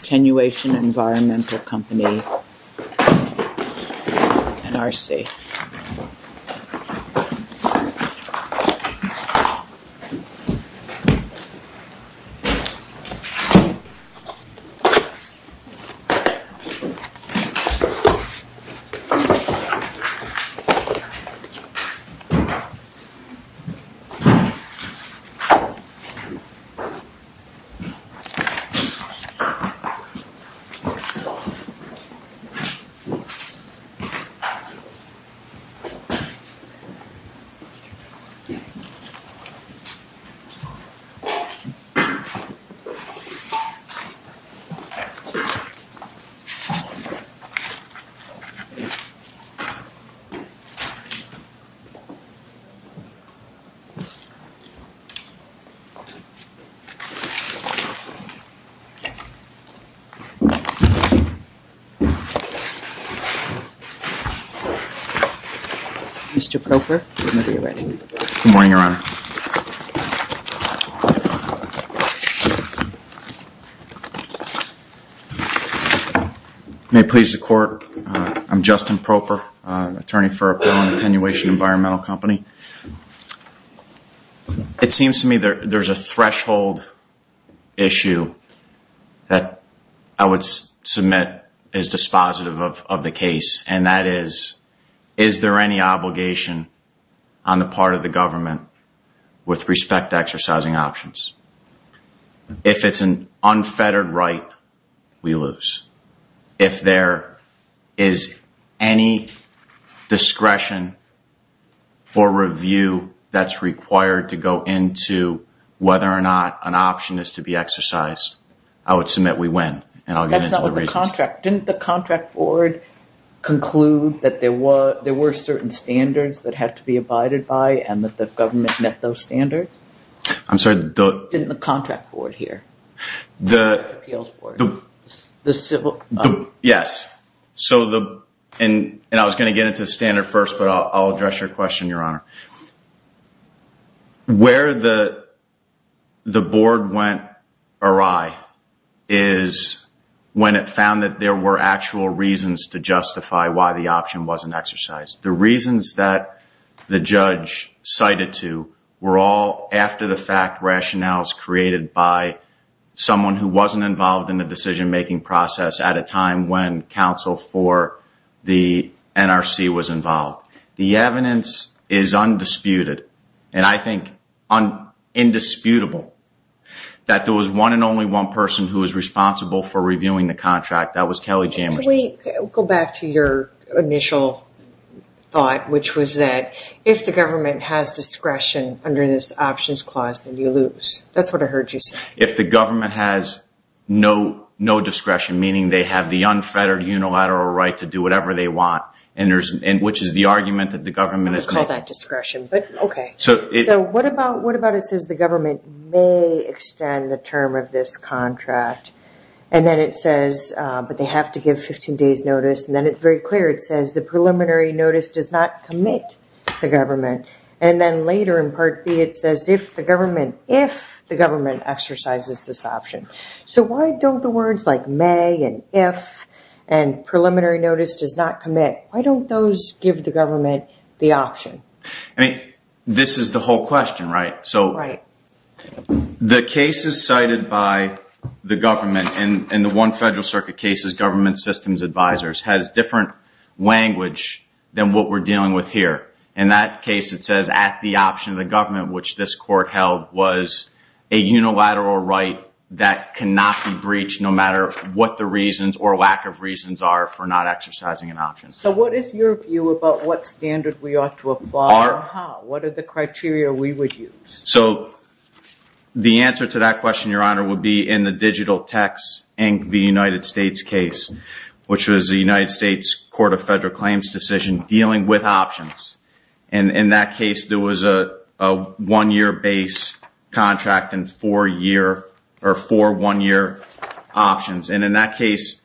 Attenuation Environmental Company, NRC. Good morning, Your Honor. May it please the Court, I'm Justin Propper, attorney for Appellant Attenuation Environmental Company. It seems to me there's a threshold issue that I would submit is dispositive of the case, and that is, is there any obligation on the part of the government with respect to exercising options? If it's an unfettered right, we lose. If there is any discretion or review that's required to go into whether or not an option is to be exercised, I would submit we win, and I'll get into the reasons. Didn't the contract board conclude that there were certain standards that had to be abided by and that the government met those standards? I'm sorry? Didn't the contract board hear? Yes. And I was going to get into the standard first, but I'll address your question, Your Honor. Where the board went awry is when it found that there were actual reasons to justify why the option wasn't exercised. The reasons that the judge cited to were all after-the-fact rationales created by someone who wasn't involved in the decision-making process at a time when counsel for the NRC was involved. The evidence is undisputed, and I think indisputable, that there was one and only one person who was responsible for reviewing the contract. That was Kelly Jamerson. Can we go back to your initial thought, which was that if the government has discretion under this options clause, then you lose. That's what I heard you say. If the government has no discretion, meaning they have the unfettered unilateral right to do whatever they want, which is the argument that the government is making. I'm going to call that discretion. What about it says the government may extend the term of this contract, but they have to give 15 days' notice. Then it's very clear. It says the preliminary notice does not commit the government. Then later in Part B, it says if the government exercises this option. Why don't the words like may and if and preliminary notice does not commit, why don't those give the government the option? This is the whole question, right? Right. The cases cited by the government in the one federal circuit cases, government systems advisors, has different language than what we're dealing with here. In that case, it says at the option of the government, which this court held was a unilateral right that cannot be breached no matter what the reasons or lack of reasons are for not exercising an option. What is your view about what standard we ought to apply and how? What are the criteria we would use? The answer to that question, Your Honor, would be in the Digital Techs, Inc. v. United States case, which was the United States Court of Federal Claims decision dealing with options. In that case, there was a one-year base contract and four one-year options. In that case,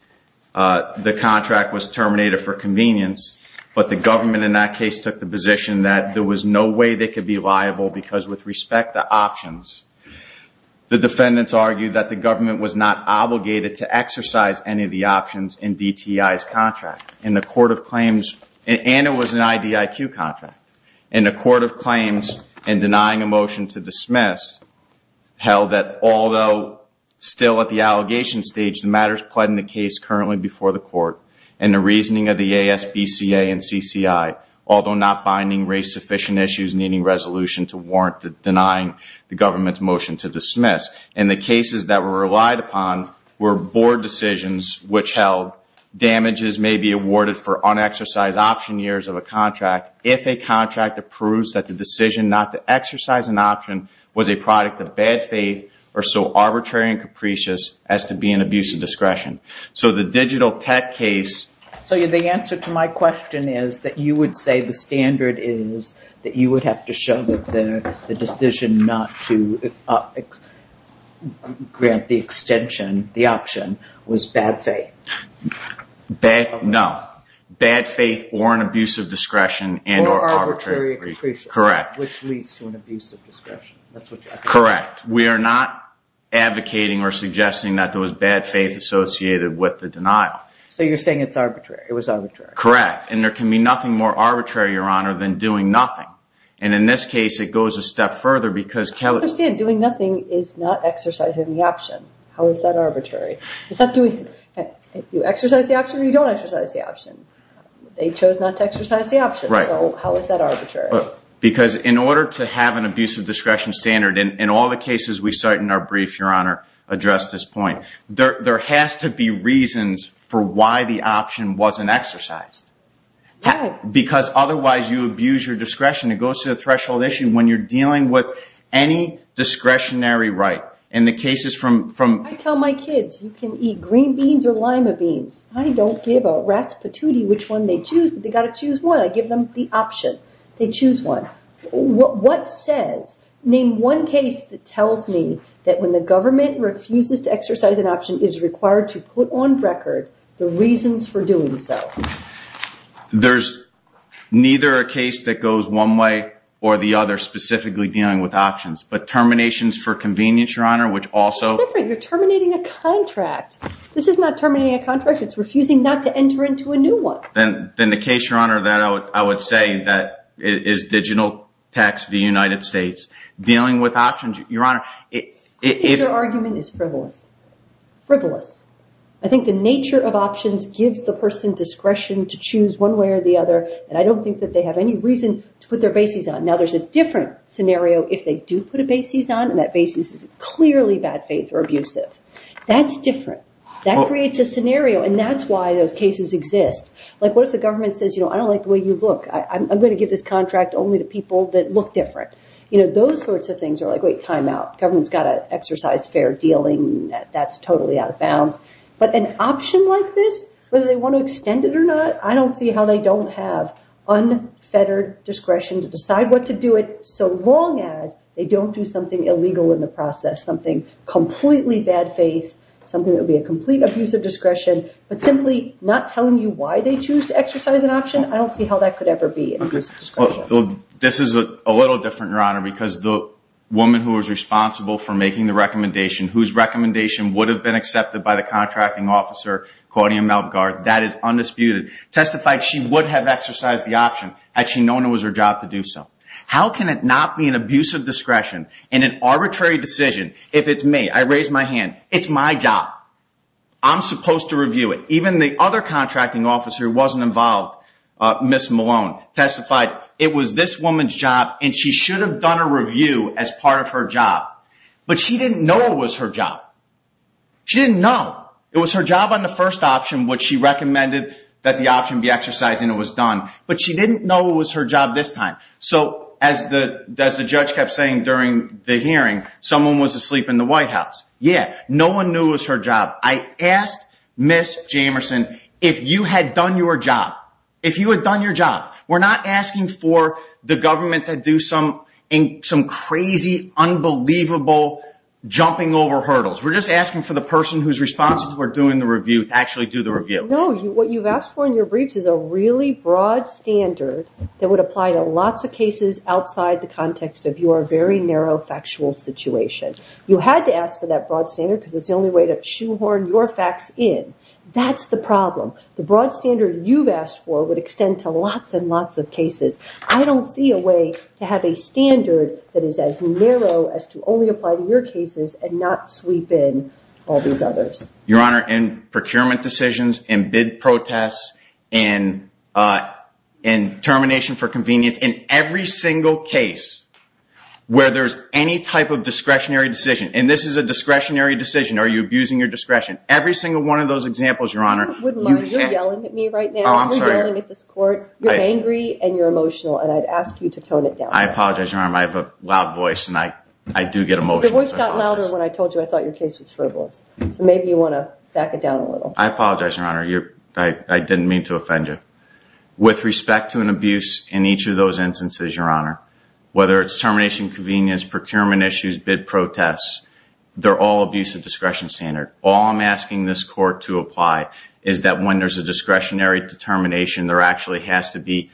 the contract was terminated for convenience, but the government in that case took the position that there was no way they could be liable because with respect to options, the defendants argued that the government was not obligated to exercise any of the options in DTI's contract and it was an IDIQ contract. In a court of claims and denying a motion to dismiss held that although still at the allegation stage, the matter is pled in the case currently before the court and the reasoning of the ASBCA and CCI, although not binding race-sufficient issues needing resolution to warrant denying the government's motion to dismiss. And the cases that were relied upon were board decisions which held damages may be awarded for unexercised option years of a contract if a contract approves that the decision not to exercise an option was a product of bad faith or so arbitrary and capricious as to be an abuse of discretion. So the digital tech case... So the answer to my question is that you would say the standard is that you would have to show that the decision not to grant the extension, the option, was bad faith. No. Bad faith or an abuse of discretion and or arbitrary... Or arbitrary and capricious. Correct. Which leads to an abuse of discretion. Correct. We are not advocating or suggesting that there was bad faith associated with the denial. So you're saying it's arbitrary. It was arbitrary. Correct. And there can be nothing more arbitrary, Your Honor, than doing nothing. And in this case, it goes a step further because Kelly... I understand doing nothing is not exercising the option. How is that arbitrary? It's not doing... You exercise the option or you don't exercise the option. They chose not to exercise the option. Right. So how is that arbitrary? Because in order to have an abuse of discretion standard, and in all the cases we cite in our brief, Your Honor, address this point, there has to be reasons for why the option wasn't exercised. Why? Because otherwise you abuse your discretion. It goes to the threshold issue when you're dealing with any discretionary right. In the cases from... I tell my kids, you can eat green beans or lima beans. I don't give a rat's patootie which one they choose, but they've got to choose one. I give them the option. They choose one. What says... Name one case that tells me that when the government refuses to exercise an option, it is required to put on record the reasons for doing so. There's neither a case that goes one way or the other specifically dealing with options. But terminations for convenience, Your Honor, which also... It's different. You're terminating a contract. This is not terminating a contract. It's refusing not to enter into a new one. Then the case, Your Honor, that I would say that is digital text of the United States. Dealing with options, Your Honor... I think your argument is frivolous. Frivolous. I think the nature of options gives the person discretion to choose one way or the other, and I don't think that they have any reason to put their bases on. Now, there's a different scenario if they do put a bases on, and that bases is clearly bad faith or abusive. That's different. That creates a scenario, and that's why those cases exist. Like what if the government says, you know, I don't like the way you look. I'm going to give this contract only to people that look different. You know, those sorts of things are like, wait, time out. Government's got to exercise fair dealing. That's totally out of bounds. But an option like this, whether they want to extend it or not, I don't see how they don't have unfettered discretion to decide what to do it so long as they don't do something illegal in the process, something completely bad faith, something that would be a complete abuse of discretion, but simply not telling you why they choose to exercise an option, I don't see how that could ever be an abuse of discretion. This is a little different, Your Honor, because the woman who was responsible for making the recommendation, whose recommendation would have been accepted by the contracting officer, Claudia Melgar, that is undisputed, testified she would have exercised the option had she known it was her job to do so. How can it not be an abuse of discretion in an arbitrary decision if it's me? I raise my hand. It's my job. I'm supposed to review it. Even the other contracting officer who wasn't involved, Ms. Malone, testified it was this woman's job, and she should have done a review as part of her job, but she didn't know it was her job. She didn't know. It was her job on the first option, which she recommended that the option be exercised and it was done, but she didn't know it was her job this time. So as the judge kept saying during the hearing, someone was asleep in the White House. Yeah, no one knew it was her job. I asked Ms. Jamerson if you had done your job. If you had done your job. We're not asking for the government to do some crazy, unbelievable jumping over hurdles. We're just asking for the person whose responsible for doing the review to actually do the review. No, what you've asked for in your briefs is a really broad standard that would apply to lots of cases outside the context of your very narrow factual situation. You had to ask for that broad standard because it's the only way to shoehorn your facts in. That's the problem. The broad standard you've asked for would extend to lots and lots of cases. I don't see a way to have a standard that is as narrow as to only apply to your cases and not sweep in all these others. Your Honor, in procurement decisions, in bid protests, in termination for convenience, it's in every single case where there's any type of discretionary decision. This is a discretionary decision. Are you abusing your discretion? Every single one of those examples, Your Honor. You're yelling at me right now. You're yelling at this court. You're angry and you're emotional. I'd ask you to tone it down. I apologize, Your Honor. I have a loud voice and I do get emotional. Your voice got louder when I told you I thought your case was frivolous. Maybe you want to back it down a little. I apologize, Your Honor. I didn't mean to offend you. With respect to an abuse in each of those instances, Your Honor, whether it's termination convenience, procurement issues, bid protests, they're all abuse of discretion standard. All I'm asking this court to apply is that when there's a discretionary determination, there actually has to be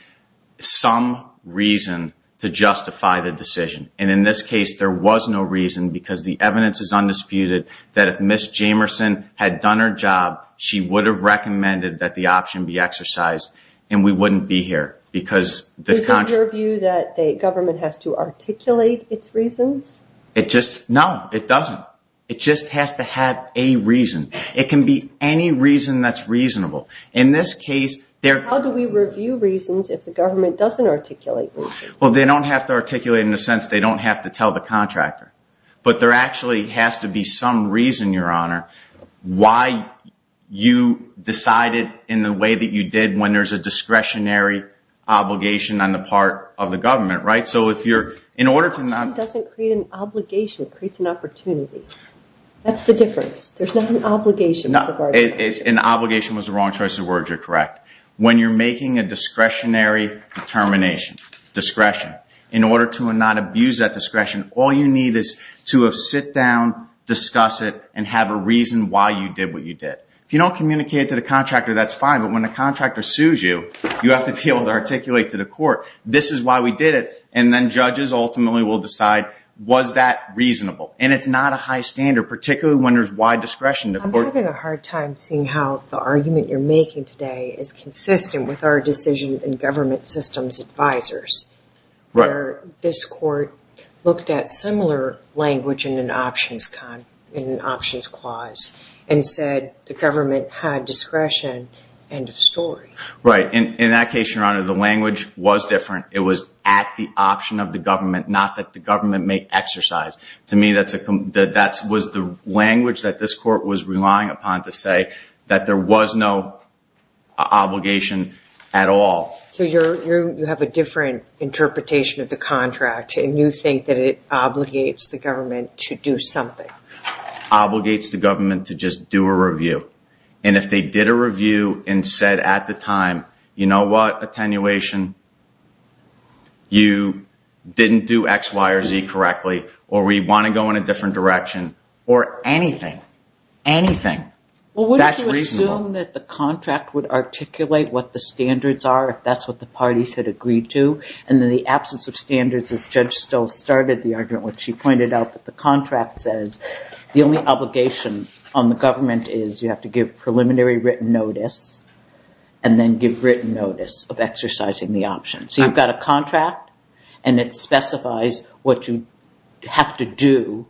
some reason to justify the decision. And in this case, there was no reason because the evidence is undisputed that if Ms. Jamerson had done her job, she would have recommended that the option be exercised and we wouldn't be here. Is it your view that the government has to articulate its reasons? No, it doesn't. It just has to have a reason. It can be any reason that's reasonable. How do we review reasons if the government doesn't articulate reasons? They don't have to articulate in the sense they don't have to tell the contractor. But there actually has to be some reason, Your Honor, why you decided in the way that you did when there's a discretionary obligation on the part of the government. It doesn't create an obligation. It creates an opportunity. That's the difference. There's not an obligation. An obligation was the wrong choice of words. You're correct. When you're making a discretionary determination, discretion, in order to not abuse that discretion, all you need is to sit down, discuss it, and have a reason why you did what you did. If you don't communicate it to the contractor, that's fine. But when the contractor sues you, you have to be able to articulate to the court, this is why we did it. And then judges ultimately will decide was that reasonable. And it's not a high standard, particularly when there's wide discretion. I'm having a hard time seeing how the argument you're making today is where this court looked at similar language in an options clause and said the government had discretion, end of story. Right. In that case, Your Honor, the language was different. It was at the option of the government, not that the government may exercise. To me, that was the language that this court was relying upon to say that there was no obligation at all. So you have a different interpretation of the contract, and you think that it obligates the government to do something. Obligates the government to just do a review. And if they did a review and said at the time, you know what, attenuation, you didn't do X, Y, or Z correctly, or we want to go in a different direction, or anything, anything, that's reasonable. I assume that the contract would articulate what the standards are, if that's what the parties had agreed to. And in the absence of standards, this judge still started the argument when she pointed out that the contract says the only obligation on the government is you have to give preliminary written notice and then give written notice of exercising the option. So you've got a contract, and it specifies what you have to do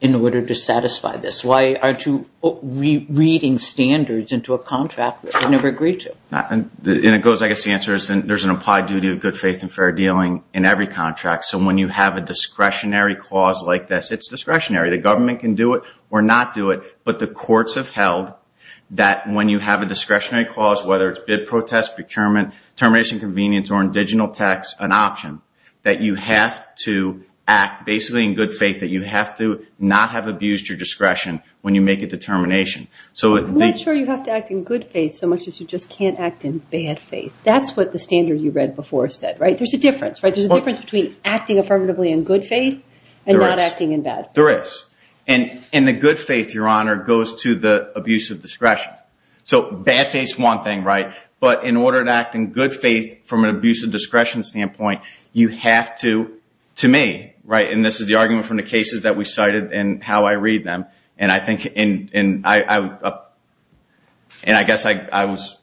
in order to satisfy this. Why aren't you reading standards into a contract that you've never agreed to? And it goes, I guess the answer is there's an applied duty of good faith and fair dealing in every contract. So when you have a discretionary clause like this, it's discretionary. The government can do it or not do it, but the courts have held that when you have a discretionary clause, whether it's bid, protest, procurement, termination, convenience, or indigenous tax, an option, that you have to act basically in good faith, that you have to not have abused your discretion when you make a determination. I'm not sure you have to act in good faith so much as you just can't act in bad faith. That's what the standard you read before said, right? There's a difference, right? There's a difference between acting affirmatively in good faith and not acting in bad. There is. And the good faith, Your Honor, goes to the abuse of discretion. So bad faith is one thing, right? But in order to act in good faith from an abuse of discretion standpoint, you have to, to me, right, and this is the argument from the cases that we cited and how I read them, and I think, and I guess I was,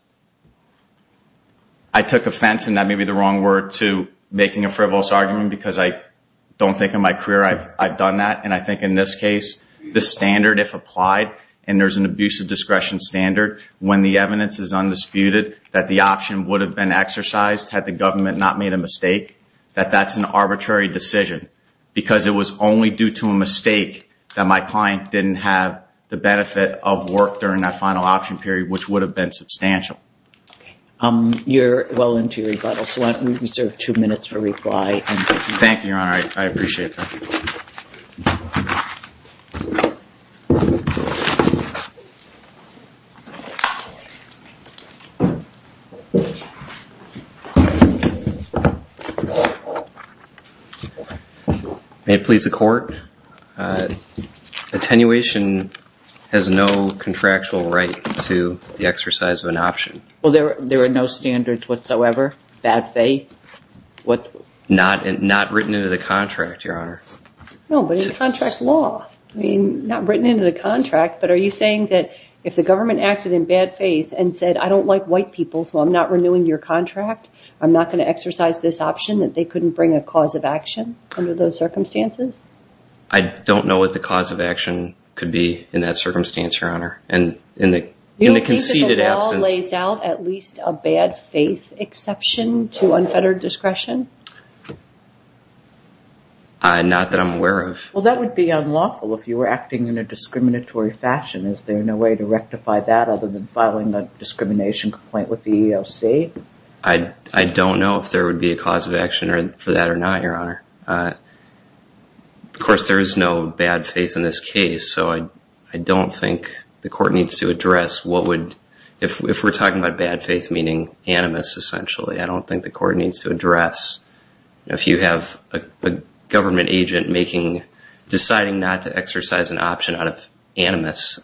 I took offense, and that may be the wrong word, to making a frivolous argument because I don't think in my career I've done that, and I think in this case, the standard, if applied, and there's an abuse of discretion standard, when the evidence is undisputed that the option would have been exercised had the government not made a mistake, that that's an arbitrary decision. Because it was only due to a mistake that my client didn't have the benefit of work during that final option period, which would have been substantial. Okay. You're well into your rebuttal, so I reserve two minutes for reply. Thank you, Your Honor. I appreciate that. May it please the court? Attenuation has no contractual right to the exercise of an option. Well, there are no standards whatsoever? Bad faith? Not written into the contract, Your Honor. No, but in contract law. I mean, not written into the contract, but are you saying that if the government acted in bad faith and said, I don't like white people, so I'm not renewing your contract, I'm not going to exercise this option, that they couldn't bring a cause of action under those circumstances? I don't know what the cause of action could be in that circumstance, Your Honor. In the conceded absence. Do you think that the law lays out at least a bad faith exception to unfettered discretion? Not that I'm aware of. Well, that would be unlawful if you were acting in a discriminatory fashion. Is there no way to rectify that other than filing a discrimination complaint with the EEOC? I don't know if there would be a cause of action for that or not, Your Honor. Of course, there is no bad faith in this case, so I don't think the court needs to address what would, if we're talking about bad faith meaning animus, essentially, I don't think the court needs to address if you have a government agent deciding not to exercise an option out of animus,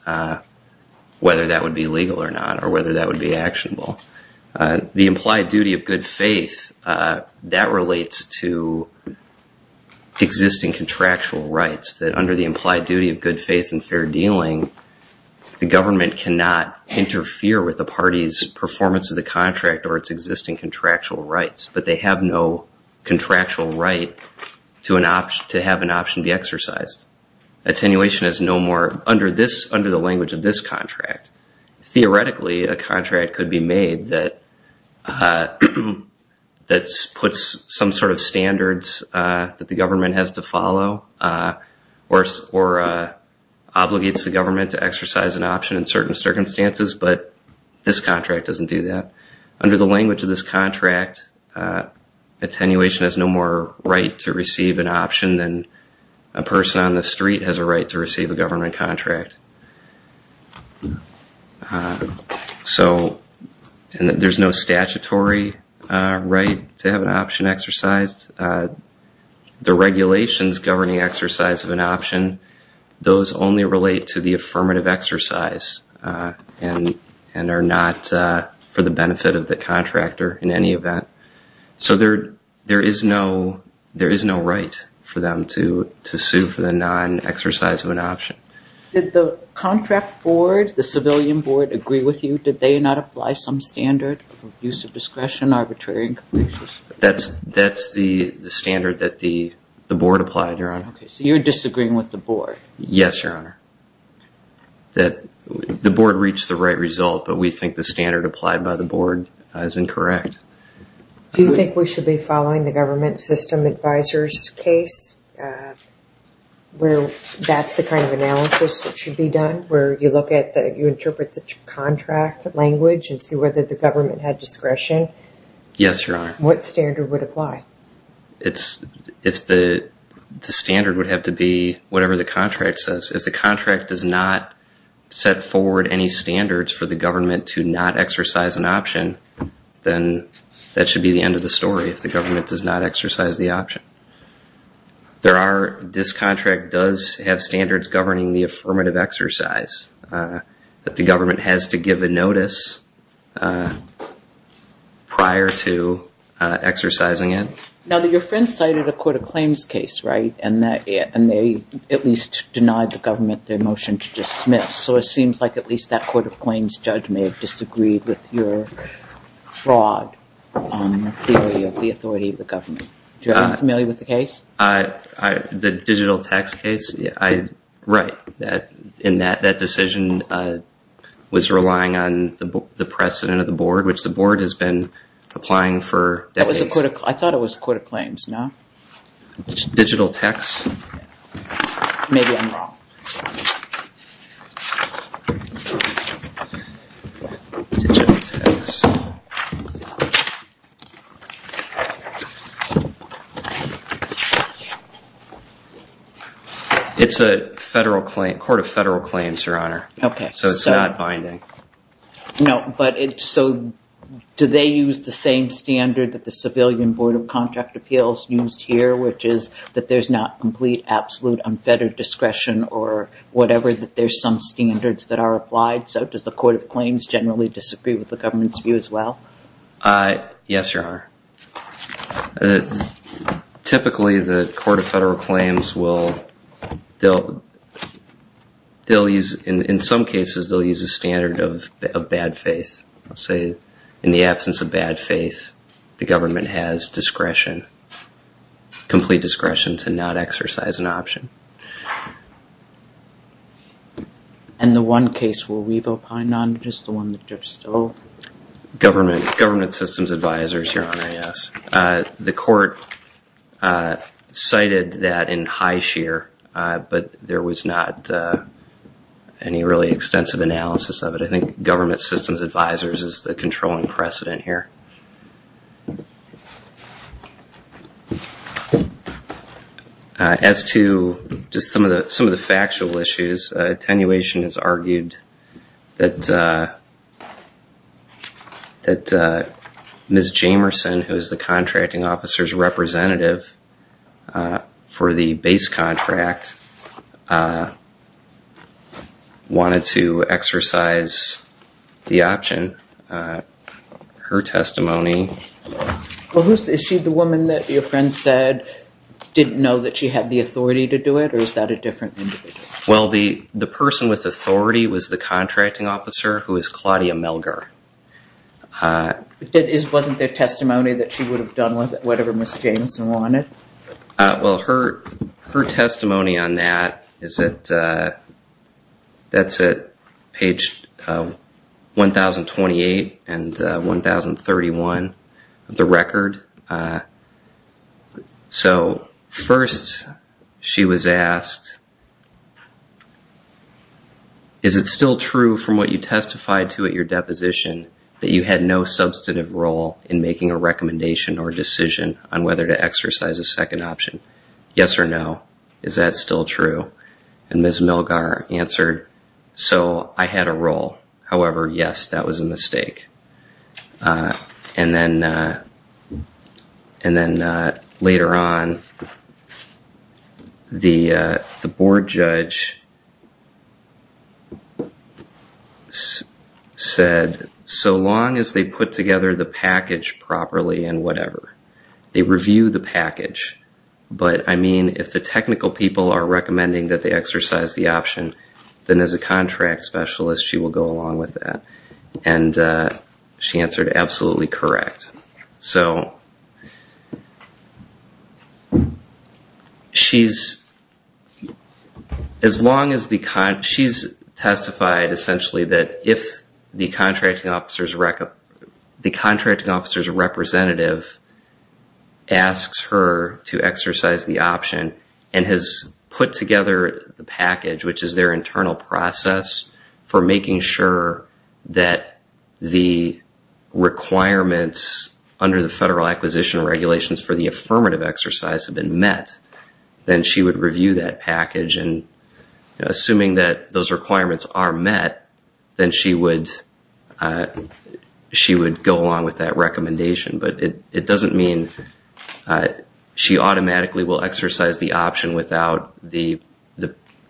whether that would be legal or not or whether that would be actionable. The implied duty of good faith, that relates to existing contractual rights, that under the implied duty of good faith and fair dealing, the government cannot interfere with the party's performance of the contract or its existing contractual rights, but they have no contractual right to have an option be exercised. Attenuation is no more, under the language of this contract, theoretically, a contract could be made that puts some sort of standards that the government has to follow or obligates the government to exercise an option in certain circumstances, but this contract doesn't do that. Under the language of this contract, attenuation has no more right to receive an option than a person on the street has a right to receive a government contract. There's no statutory right to have an option exercised. The regulations governing exercise of an option, those only relate to the affirmative exercise and are not for the benefit of the contractor in any event. So there is no right for them to sue for the non-exercise of an option. Did the contract board, the civilian board, agree with you? Did they not apply some standard of use of discretion, arbitrary and complete? That's the standard that the board applied, Your Honor. So you're disagreeing with the board? Yes, Your Honor. The board reached the right result, but we think the standard applied by the board is incorrect. Do you think we should be following the government system advisor's case where that's the kind of analysis that should be done, where you look at the, you interpret the contract language and see whether the government had discretion? Yes, Your Honor. What standard would apply? If the standard would have to be whatever the contract says. If the contract does not set forward any standards for the government to not exercise an option, then that should be the end of the story if the government does not exercise the option. This contract does have standards governing the affirmative exercise that the government has to give a notice prior to exercising it. Now, your friend cited a court of claims case, right, and they at least denied the government their motion to dismiss. So it seems like at least that court of claims judge may have disagreed with your fraud on the theory of the authority of the government. Are you familiar with the case? The digital text case? Right. And that decision was relying on the precedent of the board, which the board has been applying for decades. I thought it was a court of claims, no? Digital text? Maybe I'm wrong. Digital text. It's a federal claim, court of federal claims, Your Honor. Okay. So it's not binding. No, but so do they use the same standard that the Civilian Board of Contract Appeals used here, which is that there's not complete, absolute, unfettered discretion or whatever, that there's some standards that are applied. So does the court of claims generally disagree with the government's view as well? Yes, Your Honor. Typically, the court of federal claims will use, in some cases, they'll use a standard of bad faith. They'll say, in the absence of bad faith, the government has discretion, complete discretion to not exercise an option. And the one case we'll leave it behind on is the one that Judge Stowe? Government systems advisors, Your Honor, yes. The court cited that in high sheer, but there was not any really extensive analysis of it. I think government systems advisors is the controlling precedent here. As to just some of the factual issues, attenuation has argued that Ms. Jamerson, who is the contracting officer's representative for the base contract, wanted to exercise the option. Her testimony... Well, is she the woman that your friend said didn't know that she had the authority to do it, or is that a different individual? Well, the person with authority was the contracting officer, who is Claudia Melger. Wasn't there testimony that she would have done whatever Ms. Jamerson wanted? Well, her testimony on that is at page 1,028 and 1,031 of the record. So first she was asked, is it still true from what you testified to at your deposition that you had no substantive role in making a recommendation or decision on whether to exercise a second option? Yes or no, is that still true? And Ms. Melger answered, so I had a role. However, yes, that was a mistake. And then later on, the board judge said, so long as they put together the package properly and whatever, they review the package. But I mean, if the technical people are recommending that they exercise the option, then as a contract specialist, she will go along with that. And she answered absolutely correct. So she's testified essentially that if the contracting officer's representative asks her to exercise the option and has put together the package, which is their internal process for making sure that the requirements under the federal acquisition regulations for the affirmative exercise have been met, then she would review that package. And assuming that those requirements are met, then she would go along with that recommendation. But it doesn't mean she automatically will exercise the option without the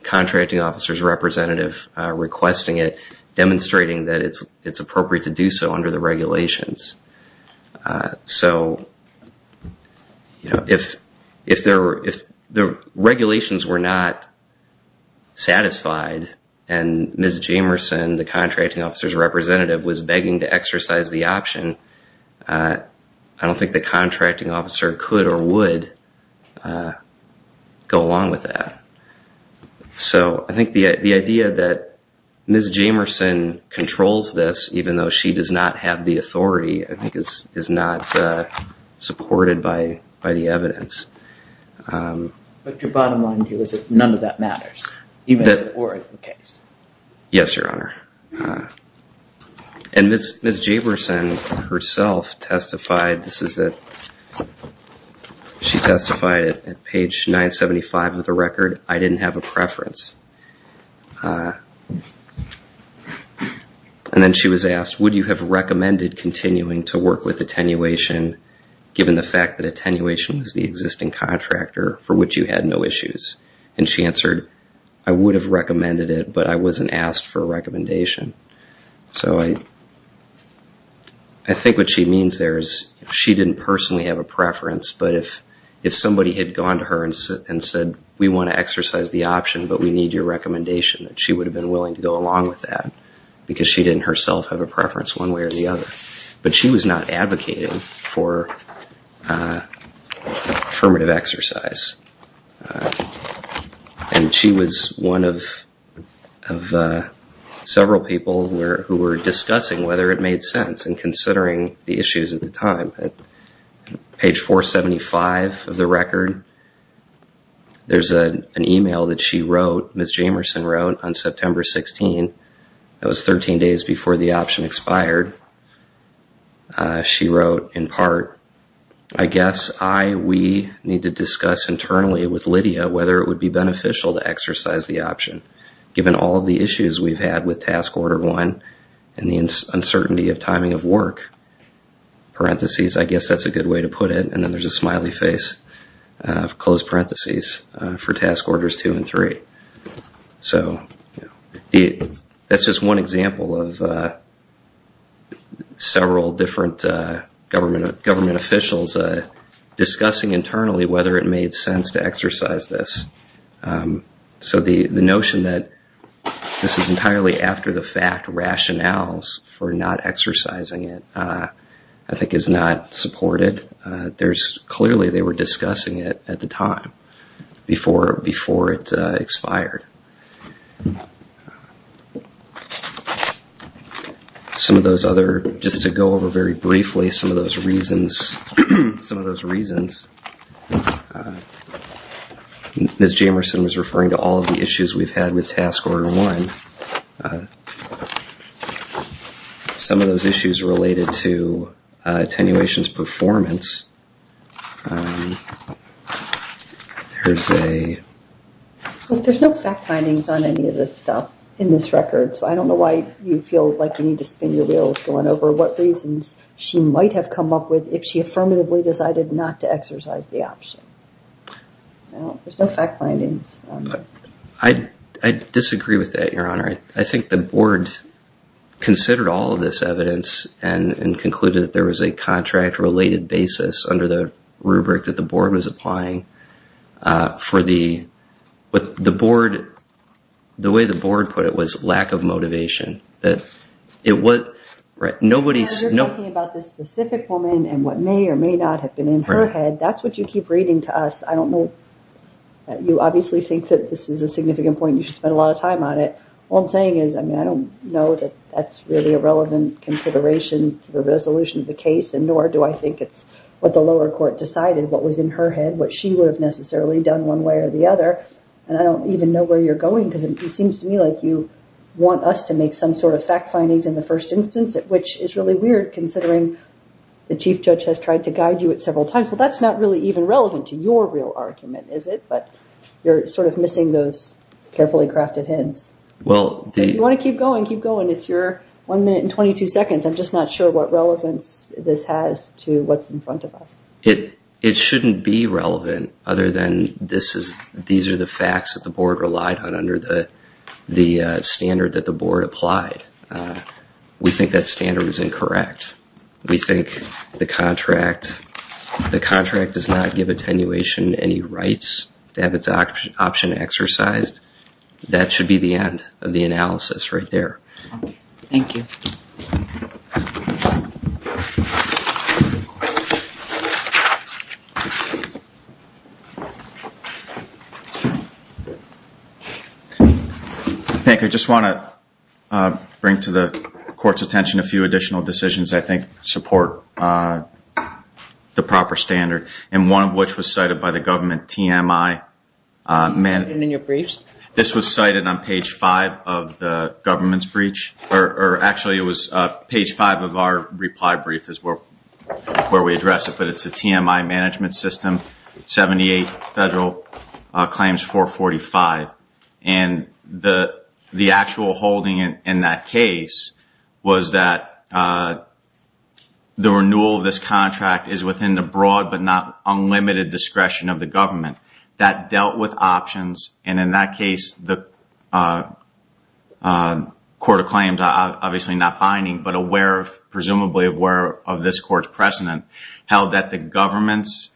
contracting officer's representative requesting it, demonstrating that it's appropriate to do so under the regulations. So if the regulations were not satisfied and Ms. Jamerson, the contracting officer's representative was begging to exercise the option, I don't think the contracting officer could or would go along with that. So I think the idea that Ms. Jamerson controls this, even though she does not have the authority, I think is not supported by the evidence. But your bottom line view is that none of that matters, even if it were the case. Yes, Your Honor. And Ms. Jamerson herself testified, she testified at page 975 of the record, I didn't have a preference. And then she was asked, would you have recommended continuing to work with attenuation, given the fact that attenuation was the existing contractor for which you had no issues? And she answered, I would have recommended it, but I wasn't asked for a recommendation. So I think what she means there is she didn't personally have a preference, but if somebody had gone to her and said, we want to exercise the option, but we need your recommendation, that she would have been willing to go along with that, because she didn't herself have a preference one way or the other. But she was not advocating for affirmative exercise. And she was one of several people who were discussing whether it made sense, and considering the issues at the time. Page 475 of the record, there's an email that she wrote, Ms. Jamerson wrote on September 16, that was 13 days before the option expired. She wrote in part, I guess I, we need to discuss internally with Lydia whether it would be beneficial to exercise the option, given all of the issues we've had with Task Order 1, and the uncertainty of timing of work. I guess that's a good way to put it. And then there's a smiley face, for Task Orders 2 and 3. So that's just one example of several different government officials discussing internally whether it made sense to exercise this. So the notion that this is entirely after the fact, and the rationale for not exercising it, I think is not supported. Clearly they were discussing it at the time, before it expired. Some of those other, just to go over very briefly, some of those reasons, Ms. Jamerson was referring to all of the issues we've had with Task Order 1. Some of those issues related to attenuation's performance. There's a... There's no fact findings on any of this stuff in this record, so I don't know why you feel like you need to spin your wheels going over what reasons she might have come up with if she affirmatively decided not to exercise the option. There's no fact findings. I disagree with that, Your Honor. I think the Board considered all of this evidence and concluded that there was a contract-related basis under the rubric that the Board was applying for the... The way the Board put it was lack of motivation. You're talking about this specific woman and what may or may not have been in her head. That's what you keep reading to us. You obviously think that this is a significant point and you should spend a lot of time on it. All I'm saying is I don't know that that's really a relevant consideration to the resolution of the case, nor do I think it's what the lower court decided, what was in her head, what she would have necessarily done one way or the other, and I don't even know where you're going because it seems to me like you want us to make some sort of fact findings in the first instance, which is really weird considering the Chief Judge has tried to guide you at several times. Well, that's not really even relevant to your real argument, is it? But you're sort of missing those carefully crafted hints. If you want to keep going, keep going. It's your 1 minute and 22 seconds. I'm just not sure what relevance this has to what's in front of us. It shouldn't be relevant other than these are the facts that the Board relied on under the standard that the Board applied. We think that standard was incorrect. We think the contract does not give attenuation any rights to have its option exercised. That should be the end of the analysis right there. Thank you. Thank you. I just want to bring to the Court's attention a few additional decisions I think support the proper standard, and one of which was cited by the government TMI. This was cited on page 5 of the government's brief, or actually it was page 5 of our reply brief is where we address it, but it's the TMI Management System, 78 Federal Claims 445. The actual holding in that case was that the renewal of this contract is within the broad but not unlimited discretion of the government. That dealt with options, and in that case the Court of Claims, obviously not finding, but presumably aware of this Court's precedent, held that the government's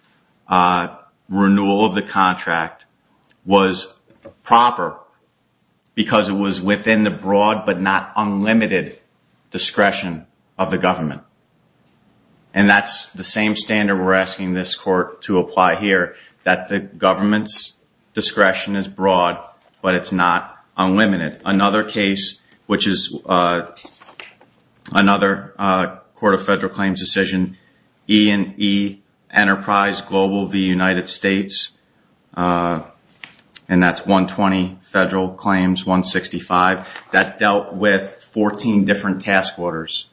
renewal of the contract was proper because it was within the broad but not unlimited discretion of the government. That's the same standard we're asking this Court to apply here, that the government's broad but it's not unlimited. Another case, which is another Court of Federal Claims decision, E&E Enterprise Global v. United States, and that's 120 Federal Claims 165. That dealt with 14 different task orders.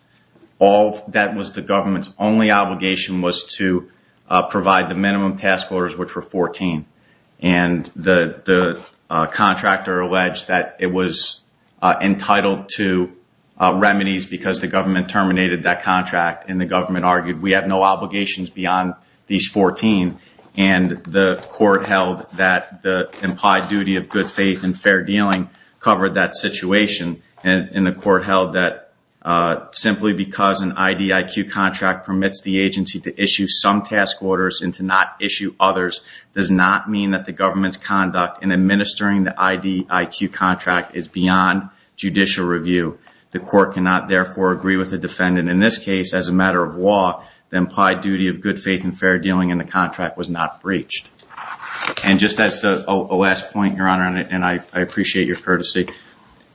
That was the government's only obligation was to provide the minimum task orders, which were 14. The contractor alleged that it was entitled to remedies because the government terminated that contract and the government argued we have no obligations beyond these 14. The Court held that the implied duty of good faith and fair dealing covered that situation. The Court held that simply because an IDIQ contract permits the agency to issue some task orders and to not issue others does not mean that the government's conduct in administering the IDIQ contract is beyond judicial review. The Court cannot, therefore, agree with the defendant. In this case, as a matter of law, the implied duty of good faith and fair dealing in the contract was not breached. Just as a last point, Your Honor, and I appreciate your courtesy,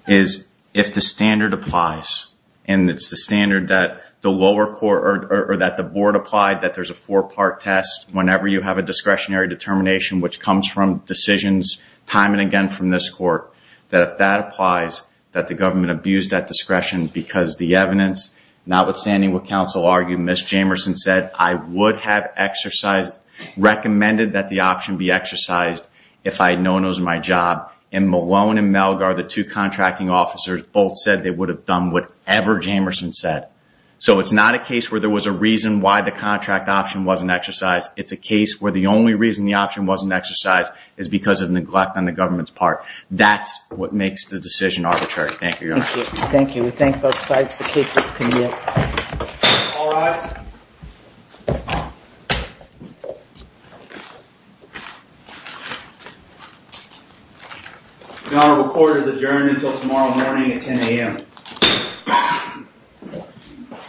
if the standard applies, and it's the standard that the lower court, or that the Board applied, that there's a four-part test whenever you have a discretionary determination which comes from decisions time and again from this Court, that if that applies, that the government abused that discretion because the evidence, notwithstanding what counsel argued, Ms. Jamerson said, I would have exercised, recommended that the option be exercised if I had known it was my job. And Malone and Malgar, the two contracting officers, both said they would have done whatever Jamerson said. So it's not a case where there was a reason why the contract option wasn't exercised. It's a case where the only reason the option wasn't exercised is because of neglect on the government's part. That's what makes the decision arbitrary. Thank you, Your Honor. Thank you. We thank both sides. The case is commuted. All rise. Your Honor, the court is adjourned until tomorrow morning at 10 a.m.